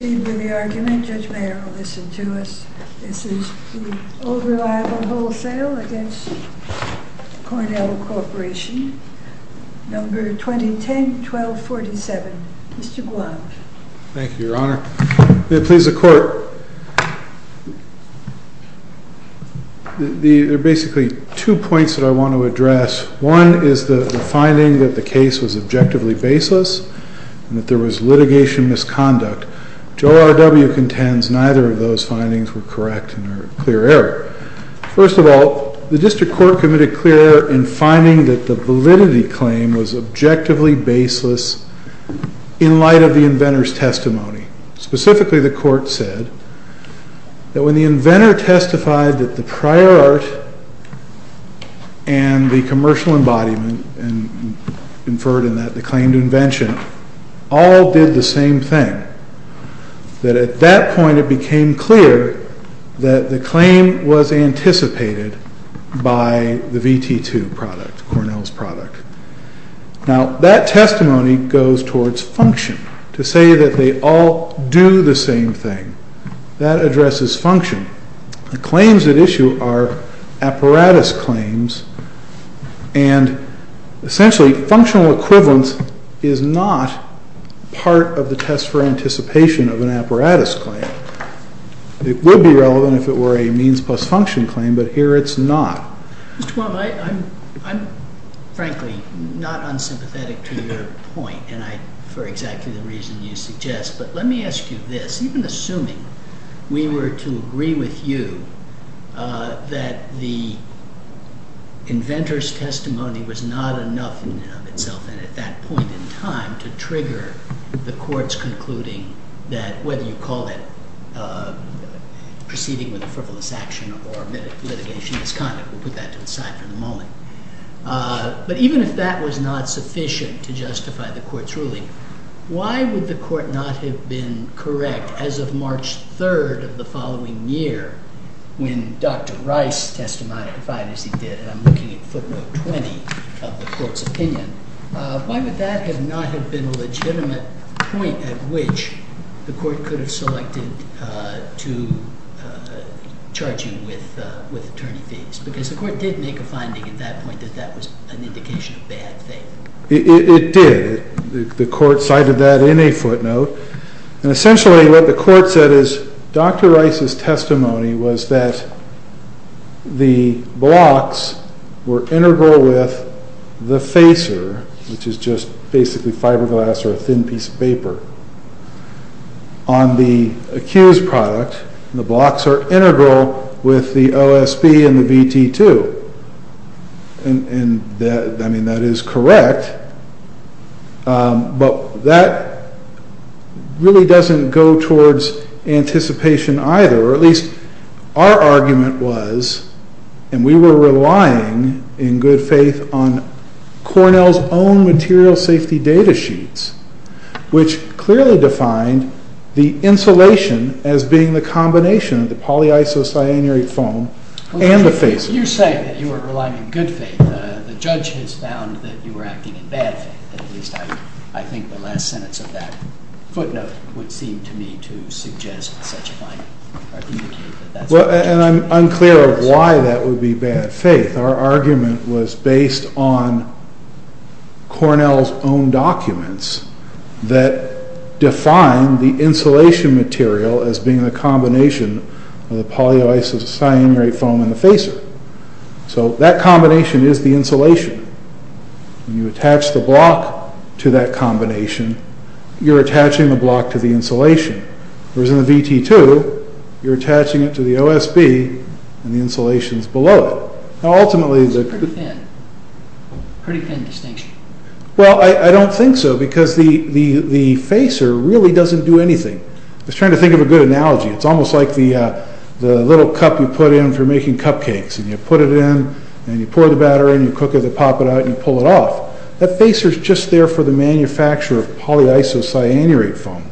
The argument, Judge Mayer will listen to us. This is the Old Reliable Wholesale against Cornell Corporation, number 2010-1247. Mr. Guad. Thank you, Your Honor. May it please the Court. There are basically two points that I want to address. One is the finding that the case was objectively baseless and that there was litigation misconduct. Joe R.W. contends neither of those findings were correct and are clear error. First of all, the district court committed clear error in finding that the validity claim was objectively baseless in light of the inventor's testimony. Specifically, the court said that when the inventor testified that the prior art and the commercial embodiment, and inferred in that the claim to invention, all did the same thing. That at that point, it became clear that the claim was anticipated by the VT2 product, Cornell's product. Now, that testimony goes towards function. To say that they all do the same thing, that addresses function. The claims at issue are apparatus claims and essentially, functional equivalence is not part of the test for anticipation of an apparatus claim. It would be relevant if it were a means plus function claim, but here it's not. Mr. Baum, I'm frankly not unsympathetic to your point and for exactly the reason you suggest. But let me ask you this, even assuming we were to agree with you that the inventor's testimony was not enough in and of itself, and at that point in time, to trigger the court's concluding that, whether you call it proceeding with a frivolous action or litigation misconduct, we'll put that to the side for the moment. But even if that was not sufficient to justify the court's ruling, why would the court not have been correct as of March 3rd of the following year when Dr. Rice testified, as he did, and I'm looking at footnote 20 of the court's opinion, why would that not have been a legitimate point at which the court could have selected to charge him with attorney fees? Because the court did make a finding at that point that that was an indication of bad faith. It did. The court cited that in a footnote. And essentially, what the court said is Dr. Rice's testimony was that the blocks were integral with the facer, which is just basically fiberglass or a thin piece of paper, on the accused product. The blocks are integral with the OSB and the VT2. And I mean, that is correct. But that really doesn't go towards anticipation either. Or at least our argument was, and we were relying in good faith on Cornell's own material safety data sheets, which clearly defined the insulation as being the combination of the polyisocyanate foam and the facer. But you're saying that you were relying in good faith. The judge has found that you were acting in bad faith. At least I think the last sentence of that footnote would seem to me to suggest such a finding, or indicate that that's the case. And I'm unclear of why that would be bad faith. Our argument was based on Cornell's own documents that define the insulation material as being the combination of the polyisocyanate foam and the facer. So that combination is the insulation. When you attach the block to that combination, you're attaching the block to the insulation. Whereas in the VT2, you're attaching it to the OSB, and the insulation's below it. Now ultimately, the- It's pretty thin. Pretty thin distinction. Well, I don't think so, because the facer really doesn't do anything. I was trying to think of a good analogy. It's almost like the little cup you make in cupcakes, and you put it in, and you pour the batter in, you cook it, they pop it out, and you pull it off. That facer's just there for the manufacture of polyisocyanate foam.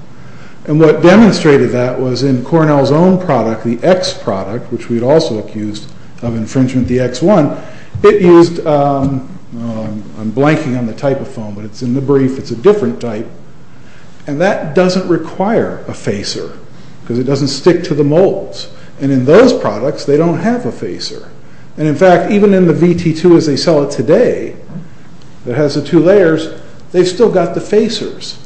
And what demonstrated that was in Cornell's own product, the X product, which we'd also accused of infringement, the X1, it used, I'm blanking on the type of foam, but it's in the brief, it's a different type. And that doesn't require a facer, because it doesn't stick to the molds. And in those products, they don't have a facer. And in fact, even in the VT2 as they sell it today, that has the two layers, they've still got the facers.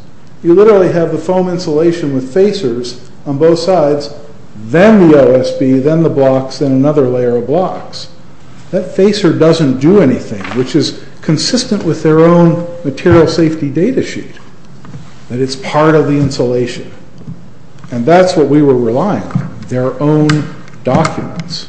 You literally have the foam insulation with facers on both sides, then the OSB, then the blocks, then another layer of blocks. That facer doesn't do anything, which is consistent with their own material safety data sheet, that it's part of the insulation. And that's what we were relying on. Their own documents.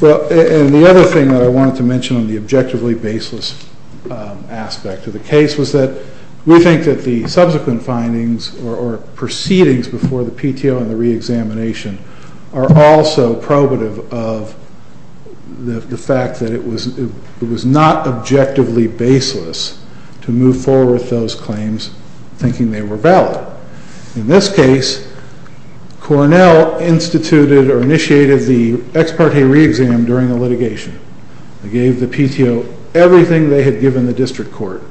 Well, and the other thing that I wanted to mention on the objectively baseless aspect of the case was that we think that the subsequent findings or proceedings before the PTO and the re-examination are also probative of the fact that it was not objectively baseless to move forward with those claims, thinking they were valid. In this case, Cornell instituted or initiated the ex parte re-exam during the litigation. They gave the PTO everything they had given the district court,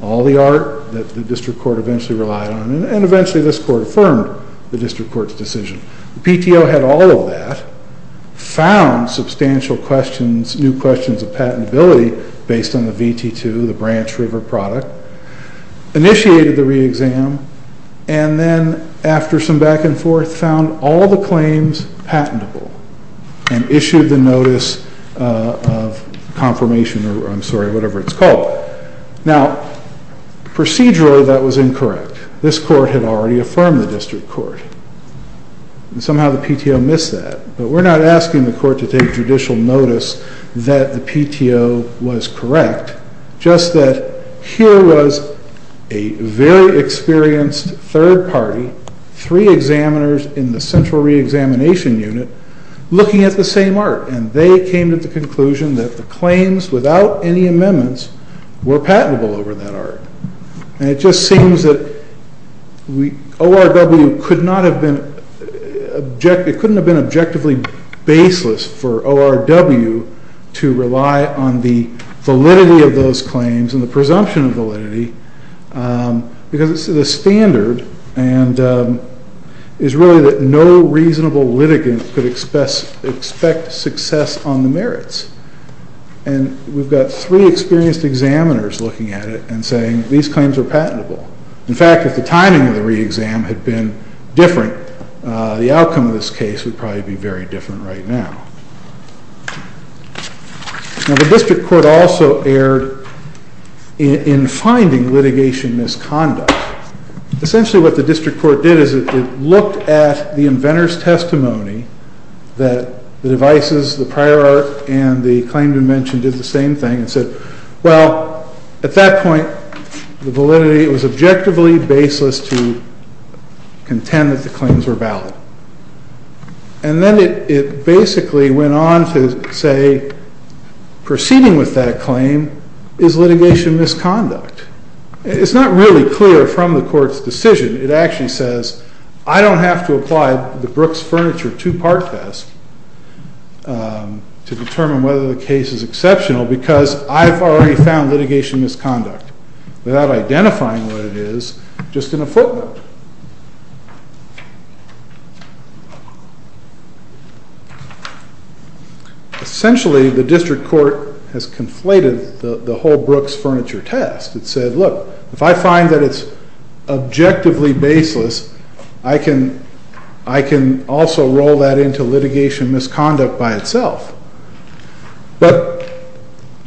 all the art that the district court eventually relied on. And eventually this court affirmed the district court's decision. The PTO had all of that, found substantial questions, new questions of patentability based on the VT2, the Branch River product, initiated the re-exam, and then after some back and forth, found all the claims patentable and issued the notice of confirmation or I'm sorry, whatever it's called. Now, procedurally, that was incorrect. This court had already affirmed the district court. Somehow the PTO missed that, but we're not asking the court to take judicial notice that the PTO was correct, just that here was a very experienced third party, three examiners in the central re-examination unit looking at the same art. And they came to the conclusion that the claims without any amendments were patentable over that art. And it just seems that ORW could not have been it couldn't have been objectively baseless for ORW to rely on the validity of those claims and the presumption of validity because it's the standard and is really that no reasonable litigant could expect success on the merits. And we've got three experienced examiners looking at it and saying, these claims are patentable. In fact, if the timing of the re-exam had been different, the outcome of this case would probably be very different right now. Now the district court also erred in finding litigation misconduct. Essentially what the district court did is it looked at the inventor's testimony that the devices, the prior art and the claim to mention did the same thing and said, well, at that point, the validity was objectively baseless to contend that the claims were valid. And then it basically went on to say, proceeding with that claim is litigation misconduct. It's not really clear from the court's decision. It actually says, I don't have to apply the Brooks Furniture two-part test to determine whether the case is exceptional because I've already found litigation misconduct without identifying what it is, just in a footnote. Essentially, the district court has conflated the whole Brooks Furniture test. It said, look, if I find that it's objectively baseless, I can also roll that into litigation misconduct by itself. But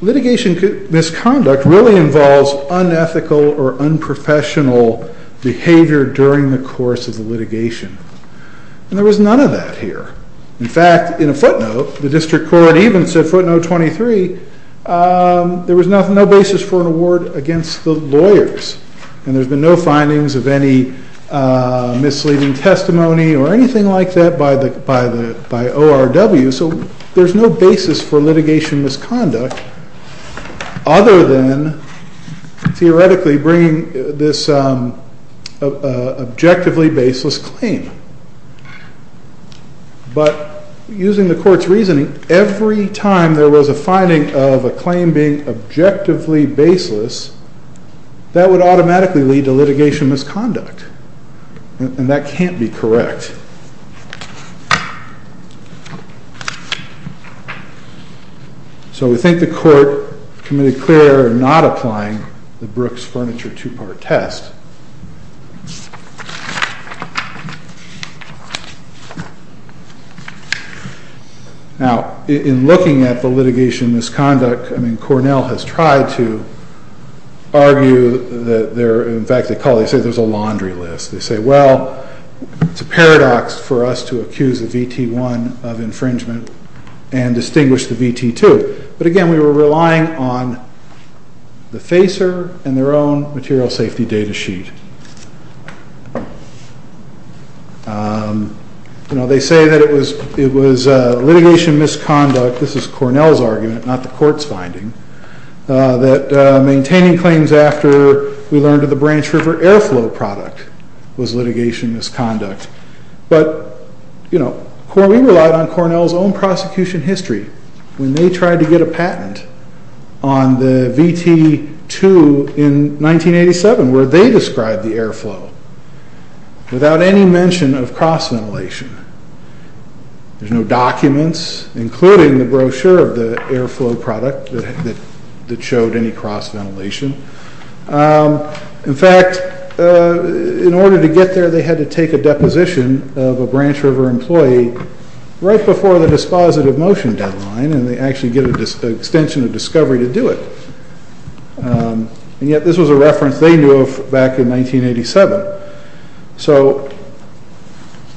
litigation misconduct really involves unethical or unprofessional behavior during the course of the litigation. And there was none of that here. In fact, in a footnote, the district court even said footnote 23, there was no basis for an award against the lawyers. And there's been no findings of any misleading testimony or anything like that by ORW. So there's no basis for litigation misconduct other than theoretically bringing this objectively baseless claim. But using the court's reasoning, every time there was a finding of a claim being objectively baseless, that would automatically lead to litigation misconduct. And that can't be correct. So we think the court committed clear in not applying the Brooks Furniture two-part test. Now, in looking at the litigation misconduct, I mean, Cornell has tried to argue that there, in fact, they call it, they say there's a laundry list. They say, well, it's a paradox. For us to accuse the VT one of infringement and distinguish the VT two. But again, we were relying on the FACER and their own material safety data sheet. You know, they say that it was litigation misconduct. This is Cornell's argument, not the court's finding that maintaining claims after we learned of the Branch River Airflow product was litigation misconduct. But, you know, we relied on Cornell's own prosecution history when they tried to get a patent on the VT two in 1987, where they described the airflow without any mention of cross ventilation. There's no documents, including the brochure of the airflow product that showed any cross ventilation. In fact, in order to get there, they had to take a deposition of a Branch River employee right before the dispositive motion deadline. And they actually get an extension of discovery to do it. And yet this was a reference they knew of back in 1987. So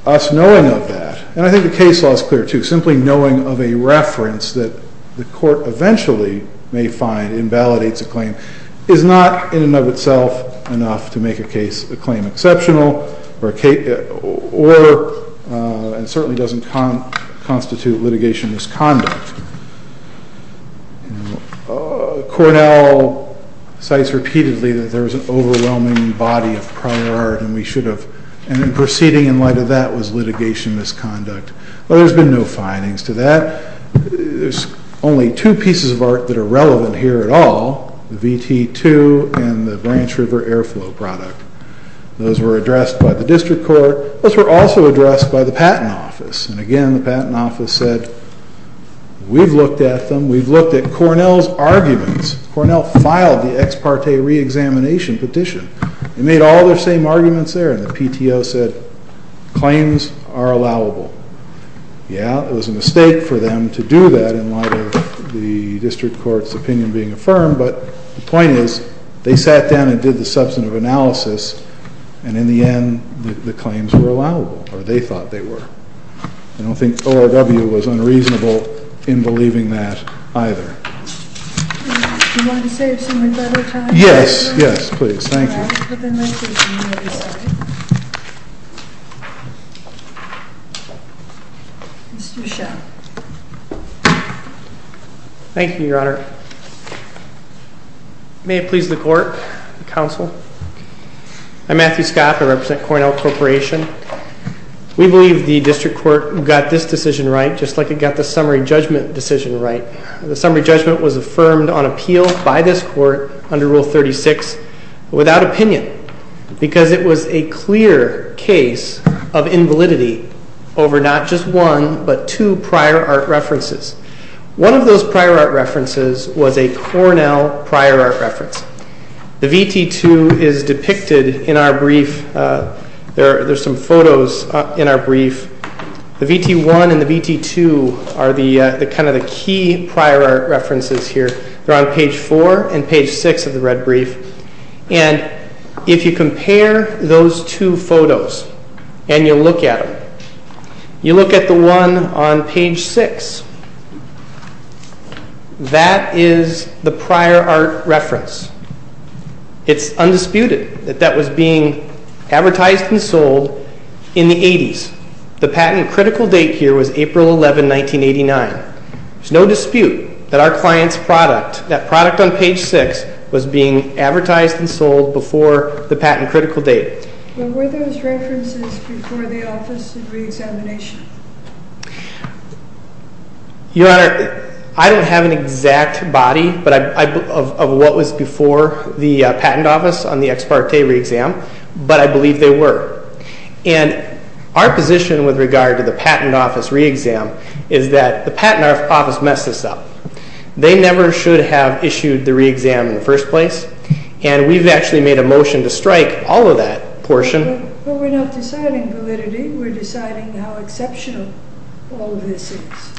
us knowing of that, and I think the case law is clear too simply knowing of a reference that the court eventually may find invalidates a claim is not in and of itself enough to make a case a claim exceptional or certainly doesn't constitute litigation misconduct. Cornell cites repeatedly that there was an overwhelming body of prior art and we should have, and in proceeding in light of that was litigation misconduct. But there's been no findings to that. There's only two pieces of art that are relevant here at all, the VT two and the Branch River airflow product. Those were addressed by the district court. Those were also addressed by the patent office. And again, the patent office said, we've looked at them. We've looked at Cornell's arguments. Cornell filed the ex parte re-examination petition. They made all their same arguments there. And the PTO said, claims are allowable. Yeah, it was a mistake for them to do that in light of the district court's opinion being affirmed. But the point is they sat down and did the substantive analysis. And in the end, the claims were allowable or they thought they were. I don't think ORW was unreasonable in believing that either. You want to say something about it? Yes, yes, please. Thank you. Mr. Huchat. Thank you, your honor. May it please the court, council. I'm Matthew Scott, I represent Cornell Corporation. We believe the district court got this decision right, just like it got the summary judgment decision right. The summary judgment was affirmed on appeal by this court under rule 36 without opinion because it was a clear case of invalidity over not just one, but two prior art references. One of those prior art references was a Cornell prior art reference. The VT2 is depicted in our brief. There's some photos in our brief. The VT1 and the VT2 are the kind of the key prior art references here. They're on page four and page six of the red brief. And if you compare those two photos and you look at them, you look at the one on page six. That is the prior art reference. It's undisputed that that was being advertised and sold in the 80s. The patent critical date here was April 11, 1989. There's no dispute that our client's product, that product on page six was being advertised and sold before the patent critical date. What were those references before the office of re-examination? Your Honor, I don't have an exact body, but of what was before the patent office on the ex parte re-exam, but I believe they were. And our position with regard to the patent office re-exam is that the patent office messed this up. They never should have issued the re-exam in the first place and we've actually made a motion to strike all of that portion. But we're not deciding validity. We're deciding how exceptional all of this is.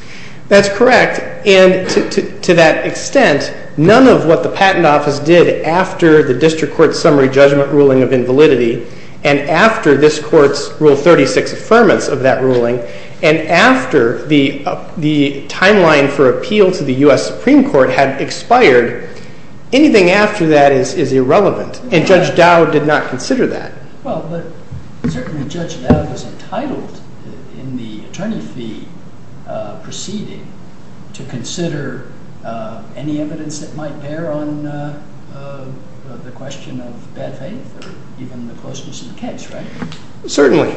That's correct. And to that extent, none of what the patent office did after the district court summary judgment ruling of invalidity and after this court's rule 36 affirmance of that ruling, and after the timeline for appeal to the U.S. Supreme Court had expired, anything after that is irrelevant. And Judge Dowd did not consider that. Well, but certainly Judge Dowd was entitled in the attorney fee proceeding to consider any evidence that might bear on the question of bad faith or even the closeness of the case, right? Certainly,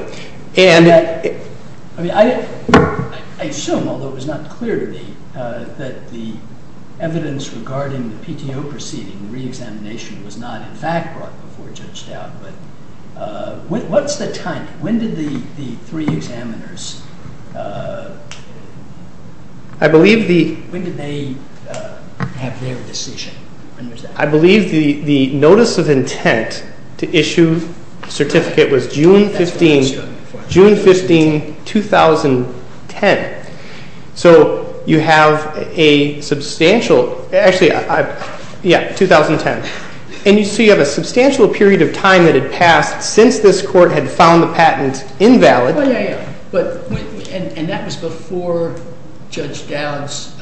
and... I mean, I assume, although it was not clear to me, that the evidence regarding the PTO proceeding, the re-examination was not in fact brought before Judge Dowd, but what's the timing? When did the three examiners... I believe the... When did they have their decision? I believe the notice of intent to issue certificate was June 15, 2010. So, you have a substantial... Actually, yeah, 2010. And you see you have a substantial period of time that had passed since this court had found the patent invalid. Well, yeah, yeah. But, and that was before Judge Dowd's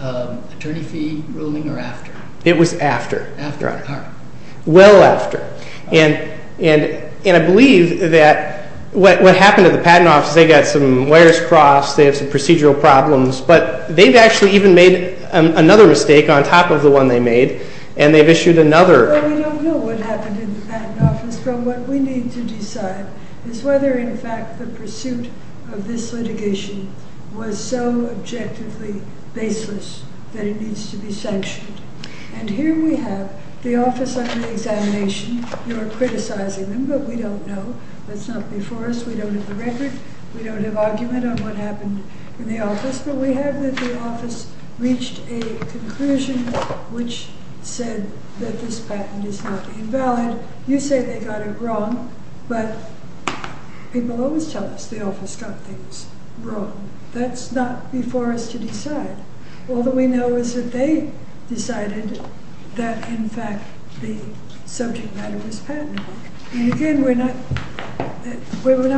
attorney fee ruling or after? It was after. After, all right. Well after. And I believe that what happened at the patent office, they got some wires crossed, they have some procedural problems, but they've actually even made another mistake on top of the one they made, and they've issued another. Well, we don't know what happened in the patent office, but what we need to decide is whether, in fact, the pursuit of this litigation was so objectively baseless that it needs to be sanctioned. And here we have the office under examination. You're criticizing them, but we don't know. That's not before us. We don't have the record. We don't have argument on what happened in the office, but we have that the office reached a conclusion which said that this patent is not invalid. You say they got it wrong, but people always tell us the office got things wrong. That's not before us to decide. All that we know is that they decided that, in fact, the subject matter was patentable. And again, we're not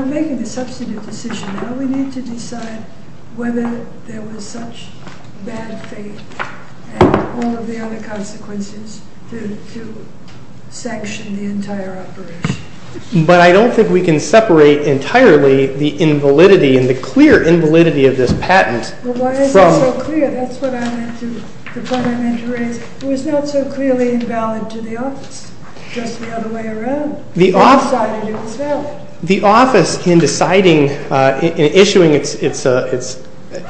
making a substantive decision. Now we need to decide whether there was such bad faith and all of the other consequences to sanction the entire operation. But I don't think we can separate entirely the invalidity and the clear invalidity of this patent. Well, why is it so clear? That's what I meant to raise. It was not so clearly invalid to the office, just the other way around. The office decided it was valid. The office, in deciding, in issuing its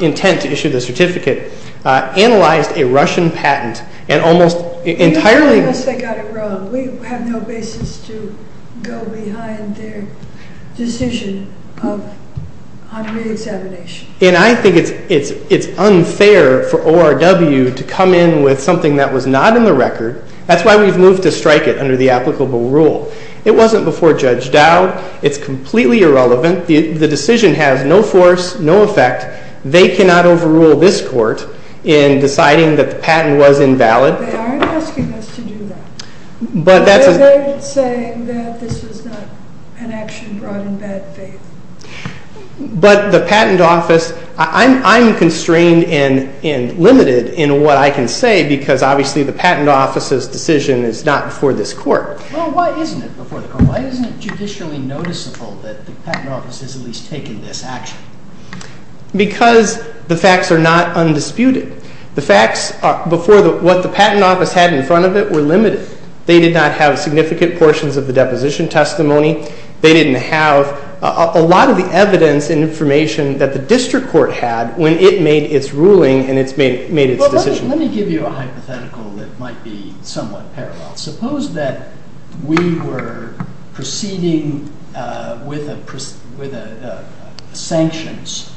intent to issue the certificate, analyzed a Russian patent and almost entirely- You tell us they got it wrong. We have no basis to go behind their decision of a re-examination. And I think it's unfair for ORW to come in with something that was not in the record. That's why we've moved to strike it under the applicable rule. It wasn't before Judge Dowd. It's completely irrelevant. The decision has no force, no effect. They cannot overrule this court in deciding that the patent was invalid. They aren't asking us to do that. But that's- They're saying that this was not an action brought in bad faith. But the patent office, I'm constrained and limited in what I can say, because obviously the patent office's decision is not before this court. Well, why isn't it before the court? Why isn't it judicially noticeable that the patent office has at least taken this action? Because the facts are not undisputed. The facts before what the patent office had in front of it were limited. They did not have significant portions of the deposition testimony. They didn't have a lot of the evidence and information that the district court had when it made its ruling and it's made its decision. Let me give you a hypothetical that might be somewhat parallel. Suppose that we were proceeding with a sanctions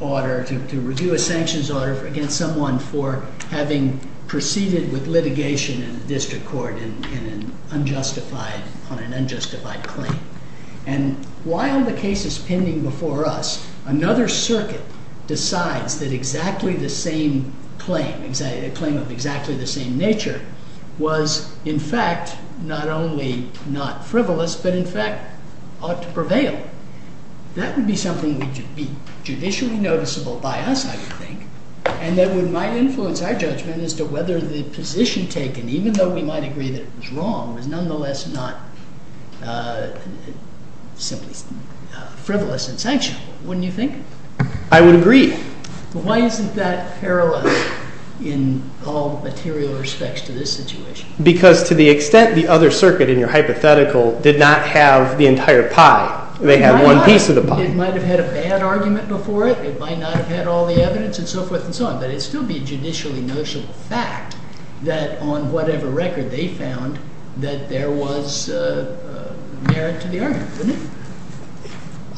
order, to review a sanctions order against someone for having proceeded with litigation in the district court in an unjustified, on an unjustified claim. And while the case is pending before us, another circuit decides that exactly the same claim, a claim of exactly the same nature, was in fact not only not frivolous, but in fact ought to prevail. That would be something that would be judicially noticeable by us, I would think, and that would might influence our judgment as to whether the position taken, even though we might agree that it was wrong, was nonetheless not simply frivolous and sanctionable. Wouldn't you think? I would agree. Why isn't that parallel in all material respects to this situation? Because to the extent the other circuit in your hypothetical did not have the entire pie, they had one piece of the pie. It might have had a bad argument before it, it might not have had all the evidence and so forth and so on, but it'd still be a judicially noticeable fact that on whatever record they found that there was a merit to the argument, wouldn't it?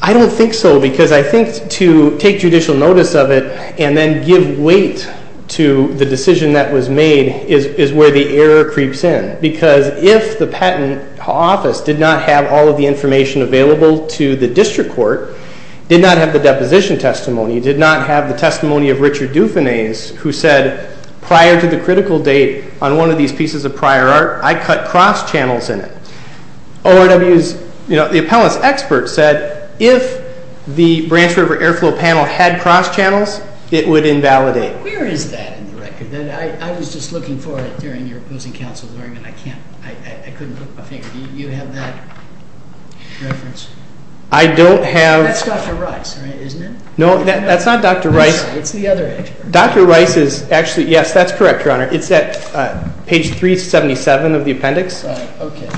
I don't think so, because I think to take judicial notice of it and then give weight to the decision that was made is where the error creeps in. Because if the patent office did not have all of the information available to the district court, did not have the deposition testimony, did not have the testimony of Richard Dufanese, who said prior to the critical date on one of these pieces of prior art, I cut cross channels in it. ORW's, the appellant's expert said, if the Branch River Airflow Panel had cross channels, it would invalidate. Where is that in the record? I was just looking for it during your opposing counsel's argument. I can't, I couldn't put my finger. Do you have that reference? I don't have. That's Dr. Rice, right, isn't it? No, that's not Dr. Rice. It's the other expert. Dr. Rice is actually, yes, that's correct, Your Honor. It's at page 377 of the appendix. Okay.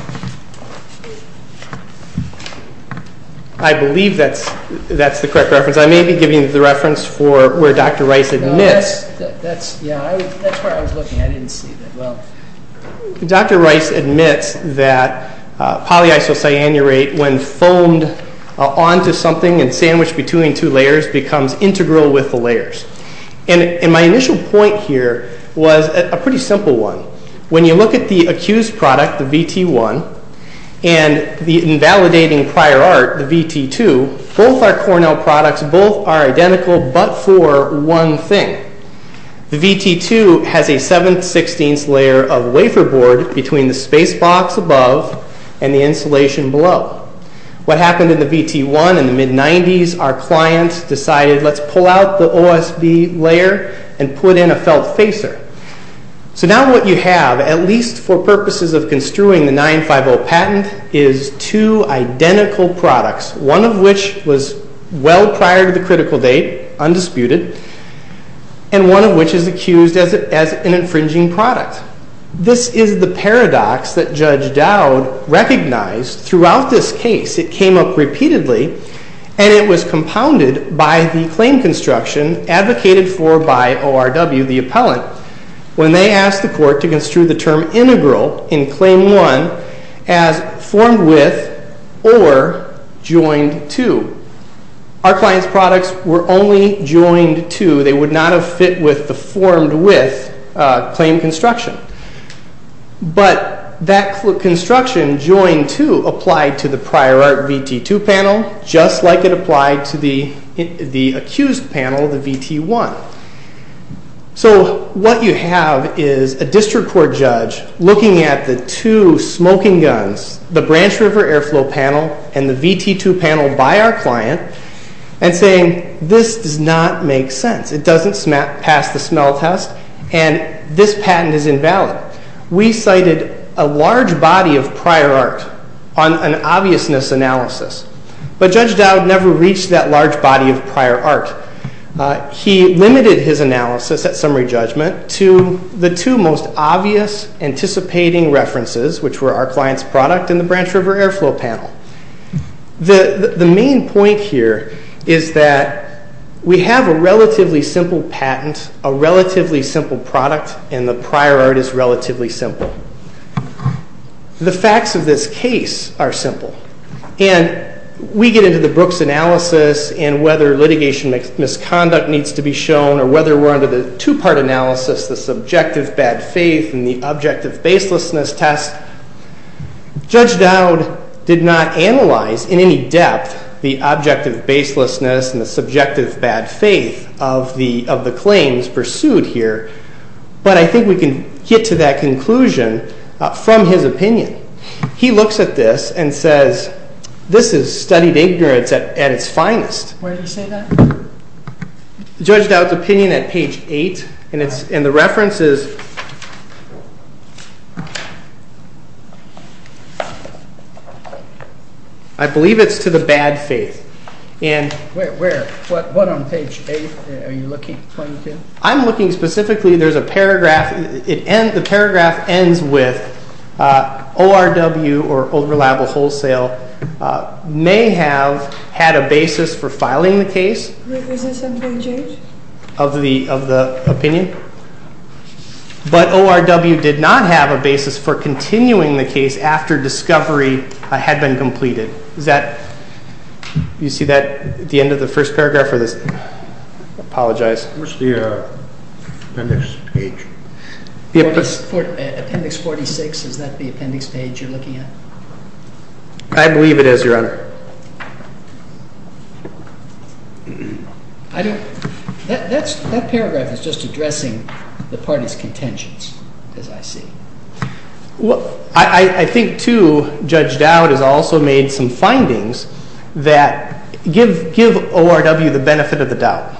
I believe that's the correct reference. I may be giving the reference for where Dr. Rice admits. That's, yeah, that's where I was looking. I didn't see that. Well, Dr. Rice admits that polyisocyanurate when foamed onto something and sandwiched between two layers becomes integral with the layers. And my initial point here was a pretty simple one. When you look at the accused product, the VT1, and the invalidating prior art, the VT2, both are Cornell products. Both are identical, but for one thing. The VT2 has a 716th layer of wafer board between the space box above and the insulation below. What happened in the VT1 in the mid-90s, our client decided, let's pull out the OSB layer and put in a felt facer. So now what you have, at least for purposes of construing the 950 patent, is two identical products, one of which was well prior to the critical date, undisputed, and one of which is accused as an infringing product. This is the paradox that Judge Dowd recognized throughout this case. It came up repeatedly, and it was compounded by the claim construction advocated for by ORW, the appellant, when they asked the court to construe the term integral in claim one as formed with or joined to. Our client's products were only joined to. They would not have fit with the formed with claim construction. But that construction, joined to, applied to the prior art VT2 panel, just like it applied to the accused panel, the VT1. So what you have is a district court judge looking at the two smoking guns, the Branch River Airflow panel, and the VT2 panel by our client, and saying, this does not make sense. It doesn't pass the smell test, and this patent is invalid. We cited a large body of prior art on an obviousness analysis, but Judge Dowd never reached that large body of prior art. He limited his analysis at summary judgment to the two most obvious anticipating references, which were our client's product and the Branch River Airflow panel. The main point here is that we have a relatively simple patent, a relatively simple product, and the prior art is relatively simple. The facts of this case are simple. And we get into the Brooks analysis and whether litigation misconduct needs to be shown or whether we're under the two-part analysis, the subjective bad faith and the objective baselessness test. Judge Dowd did not analyze in any depth the objective baselessness and the subjective bad faith of the claims pursued here, but I think we can get to that conclusion from his opinion. He looks at this and says, this is studied ignorance at its finest. Where did he say that? Judge Dowd's opinion at page eight. And the reference is, I believe it's to the bad faith. Where, what on page eight are you looking, 22? I'm looking specifically, there's a paragraph, the paragraph ends with ORW or overlappable wholesale may have had a basis for filing the case. Was this on page eight? Of the opinion. But ORW did not have a basis for continuing the case after discovery had been completed. Is that, you see that at the end of the first paragraph or this, I apologize. Where's the appendix page? Appendix 46, is that the appendix page you're looking at? I believe it is, Your Honor. I don't, that paragraph is just addressing the party's contentions, as I see. I think too, Judge Dowd has also made some findings that give ORW the benefit of the doubt.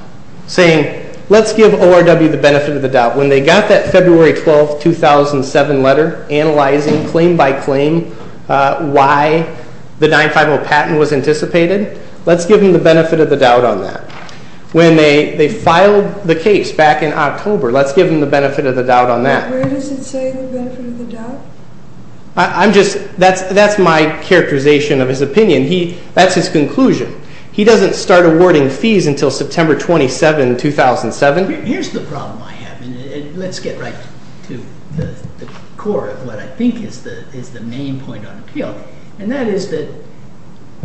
Saying, let's give ORW the benefit of the doubt. When they got that February 12th, 2007 letter analyzing claim by claim why the 950 patent was anticipated, let's give them the benefit of the doubt on that. When they filed the case back in October, let's give them the benefit of the doubt on that. Where does it say the benefit of the doubt? I'm just, that's my characterization of his opinion. That's his conclusion. He doesn't start awarding fees until September 27, 2007. Here's the problem I have, and let's get right to the core of what I think is the main point on appeal. And that is that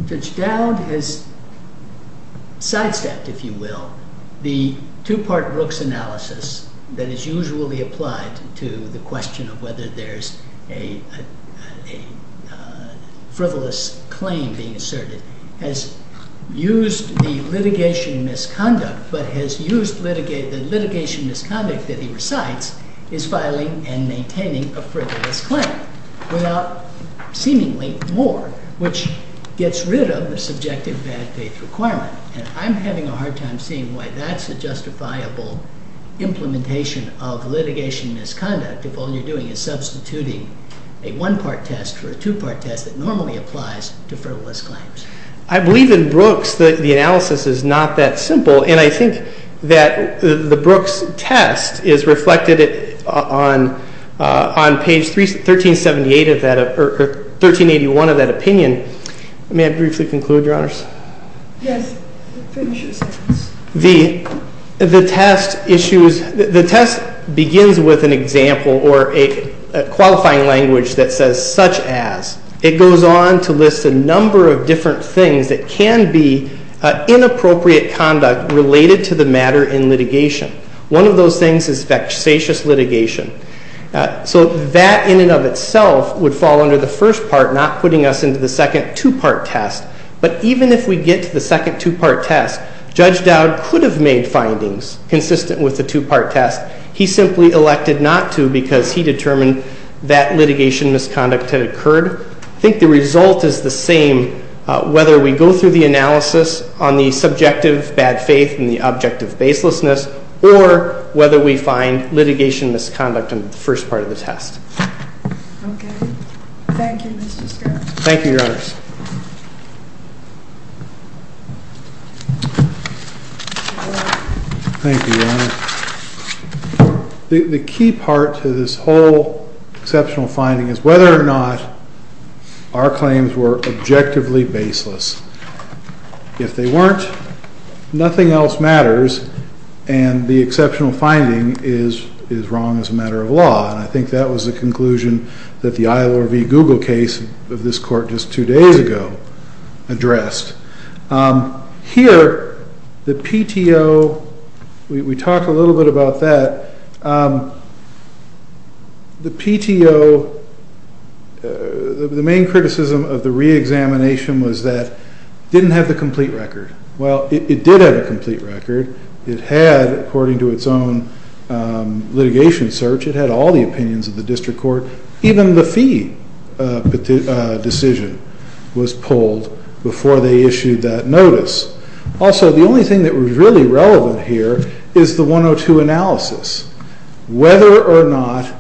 Judge Dowd has sidestepped, if you will, the two part Brooks analysis that is usually applied to the question of whether there's a frivolous claim being asserted. Has used the litigation misconduct, but has used the litigation misconduct that he recites is filing and maintaining a frivolous claim without seemingly more, which gets rid of the subjective bad faith requirement. And I'm having a hard time seeing why that's a justifiable implementation of litigation misconduct. If all you're doing is substituting a one part test for a two part test that normally applies to frivolous claims. I believe in Brooks, the analysis is not that simple. And I think that the Brooks test is reflected on page 1378 of that, or 1381 of that opinion. May I briefly conclude, your honors? Yes, finish your sentence. The test issues, the test begins with an example or a qualifying language that says such as. It goes on to list a number of different things that can be inappropriate conduct related to the matter in litigation. One of those things is vexatious litigation. So that in and of itself would fall under the first part, not putting us into the second two part test. But even if we get to the second two part test, Judge Dowd could have made findings consistent with the two part test. He simply elected not to because he determined that litigation misconduct had occurred. I think the result is the same, whether we go through the analysis on the subjective bad faith and the objective baselessness, or whether we find litigation misconduct in the first part of the test. Okay, thank you, Mr. Scott. Thank you, your honors. Thank you, your honor. The key part to this whole exceptional finding is whether or not our claims were objectively baseless. If they weren't, nothing else matters. And the exceptional finding is wrong as a matter of law. And I think that was the conclusion that the ILRV Google case of this court just two days ago addressed. Here, the PTO, we talked a little bit about that. The PTO, the main criticism of the re-examination was that it didn't have the complete record. Well, it did have a complete record. It had, according to its own litigation search, it had all the opinions of the district court. Even the fee decision was pulled before they issued that notice. Also, the only thing that was really relevant here is the 102 analysis. Whether or not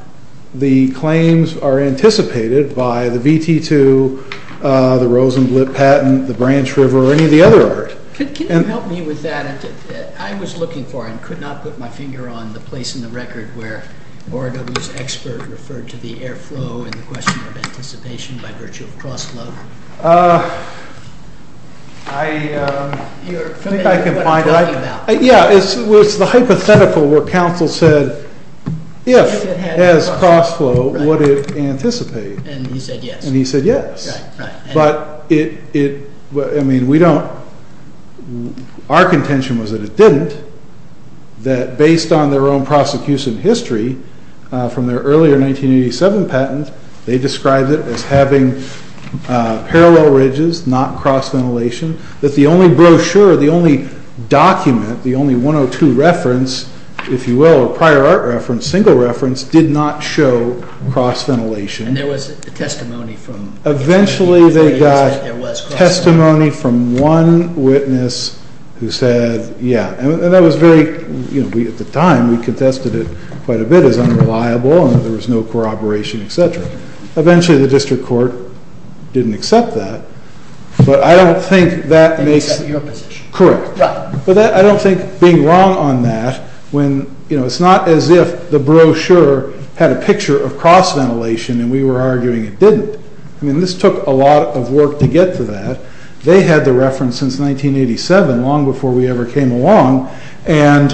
the claims are anticipated by the VT2, the Rosenblatt patent, the Branch River, or any of the other art. Could you help me with that? I was looking for, and could not put my finger on the place in the record where ORW's expert referred to the airflow and the question of anticipation by virtue of cross-flow. I think I can find out. Yeah, it was the hypothetical where counsel said, if, as cross-flow, would it anticipate? And he said yes. And he said yes. But it, I mean, we don't, our contention was that it didn't, that based on their own prosecution history from their earlier 1987 patent, they described it as having parallel ridges, not cross-ventilation, that the only brochure, the only document, the only 102 reference, if you will, or prior art reference, single reference, did not show cross-ventilation. And there was a testimony from. Eventually, they got testimony from one witness who said, yeah. And that was very, at the time, we contested it quite a bit as unreliable, and there was no corroboration, et cetera. Eventually, the district court didn't accept that. But I don't think that makes. That's your position. Correct. But I don't think being wrong on that, when it's not as if the brochure had a picture of cross-ventilation, and we were arguing it didn't. I mean, this took a lot of work to get to that. They had the reference since 1987, long before we ever came along. And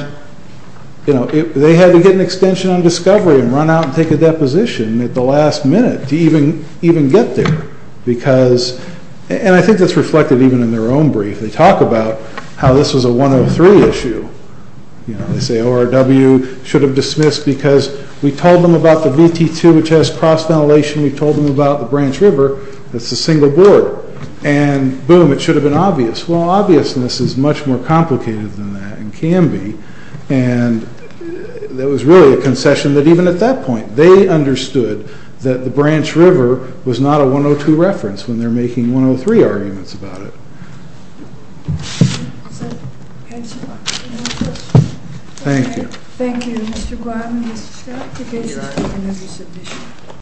they had to get an extension on discovery and run out and take a deposition at the last minute to even get there. Because, and I think that's reflected even in their own brief. They talk about how this was a 103 issue. They say ORW should have dismissed because we told them about the VT2, which has cross-ventilation. We told them about the Branch River. That's a single board. And boom, it should have been obvious. Well, obviousness is much more complicated than that, and can be. And there was really a concession that even at that point, they understood that the Branch River was not a 102 reference when they're making 103 arguments about it. Thank you. Thank you, Mr. Glatton.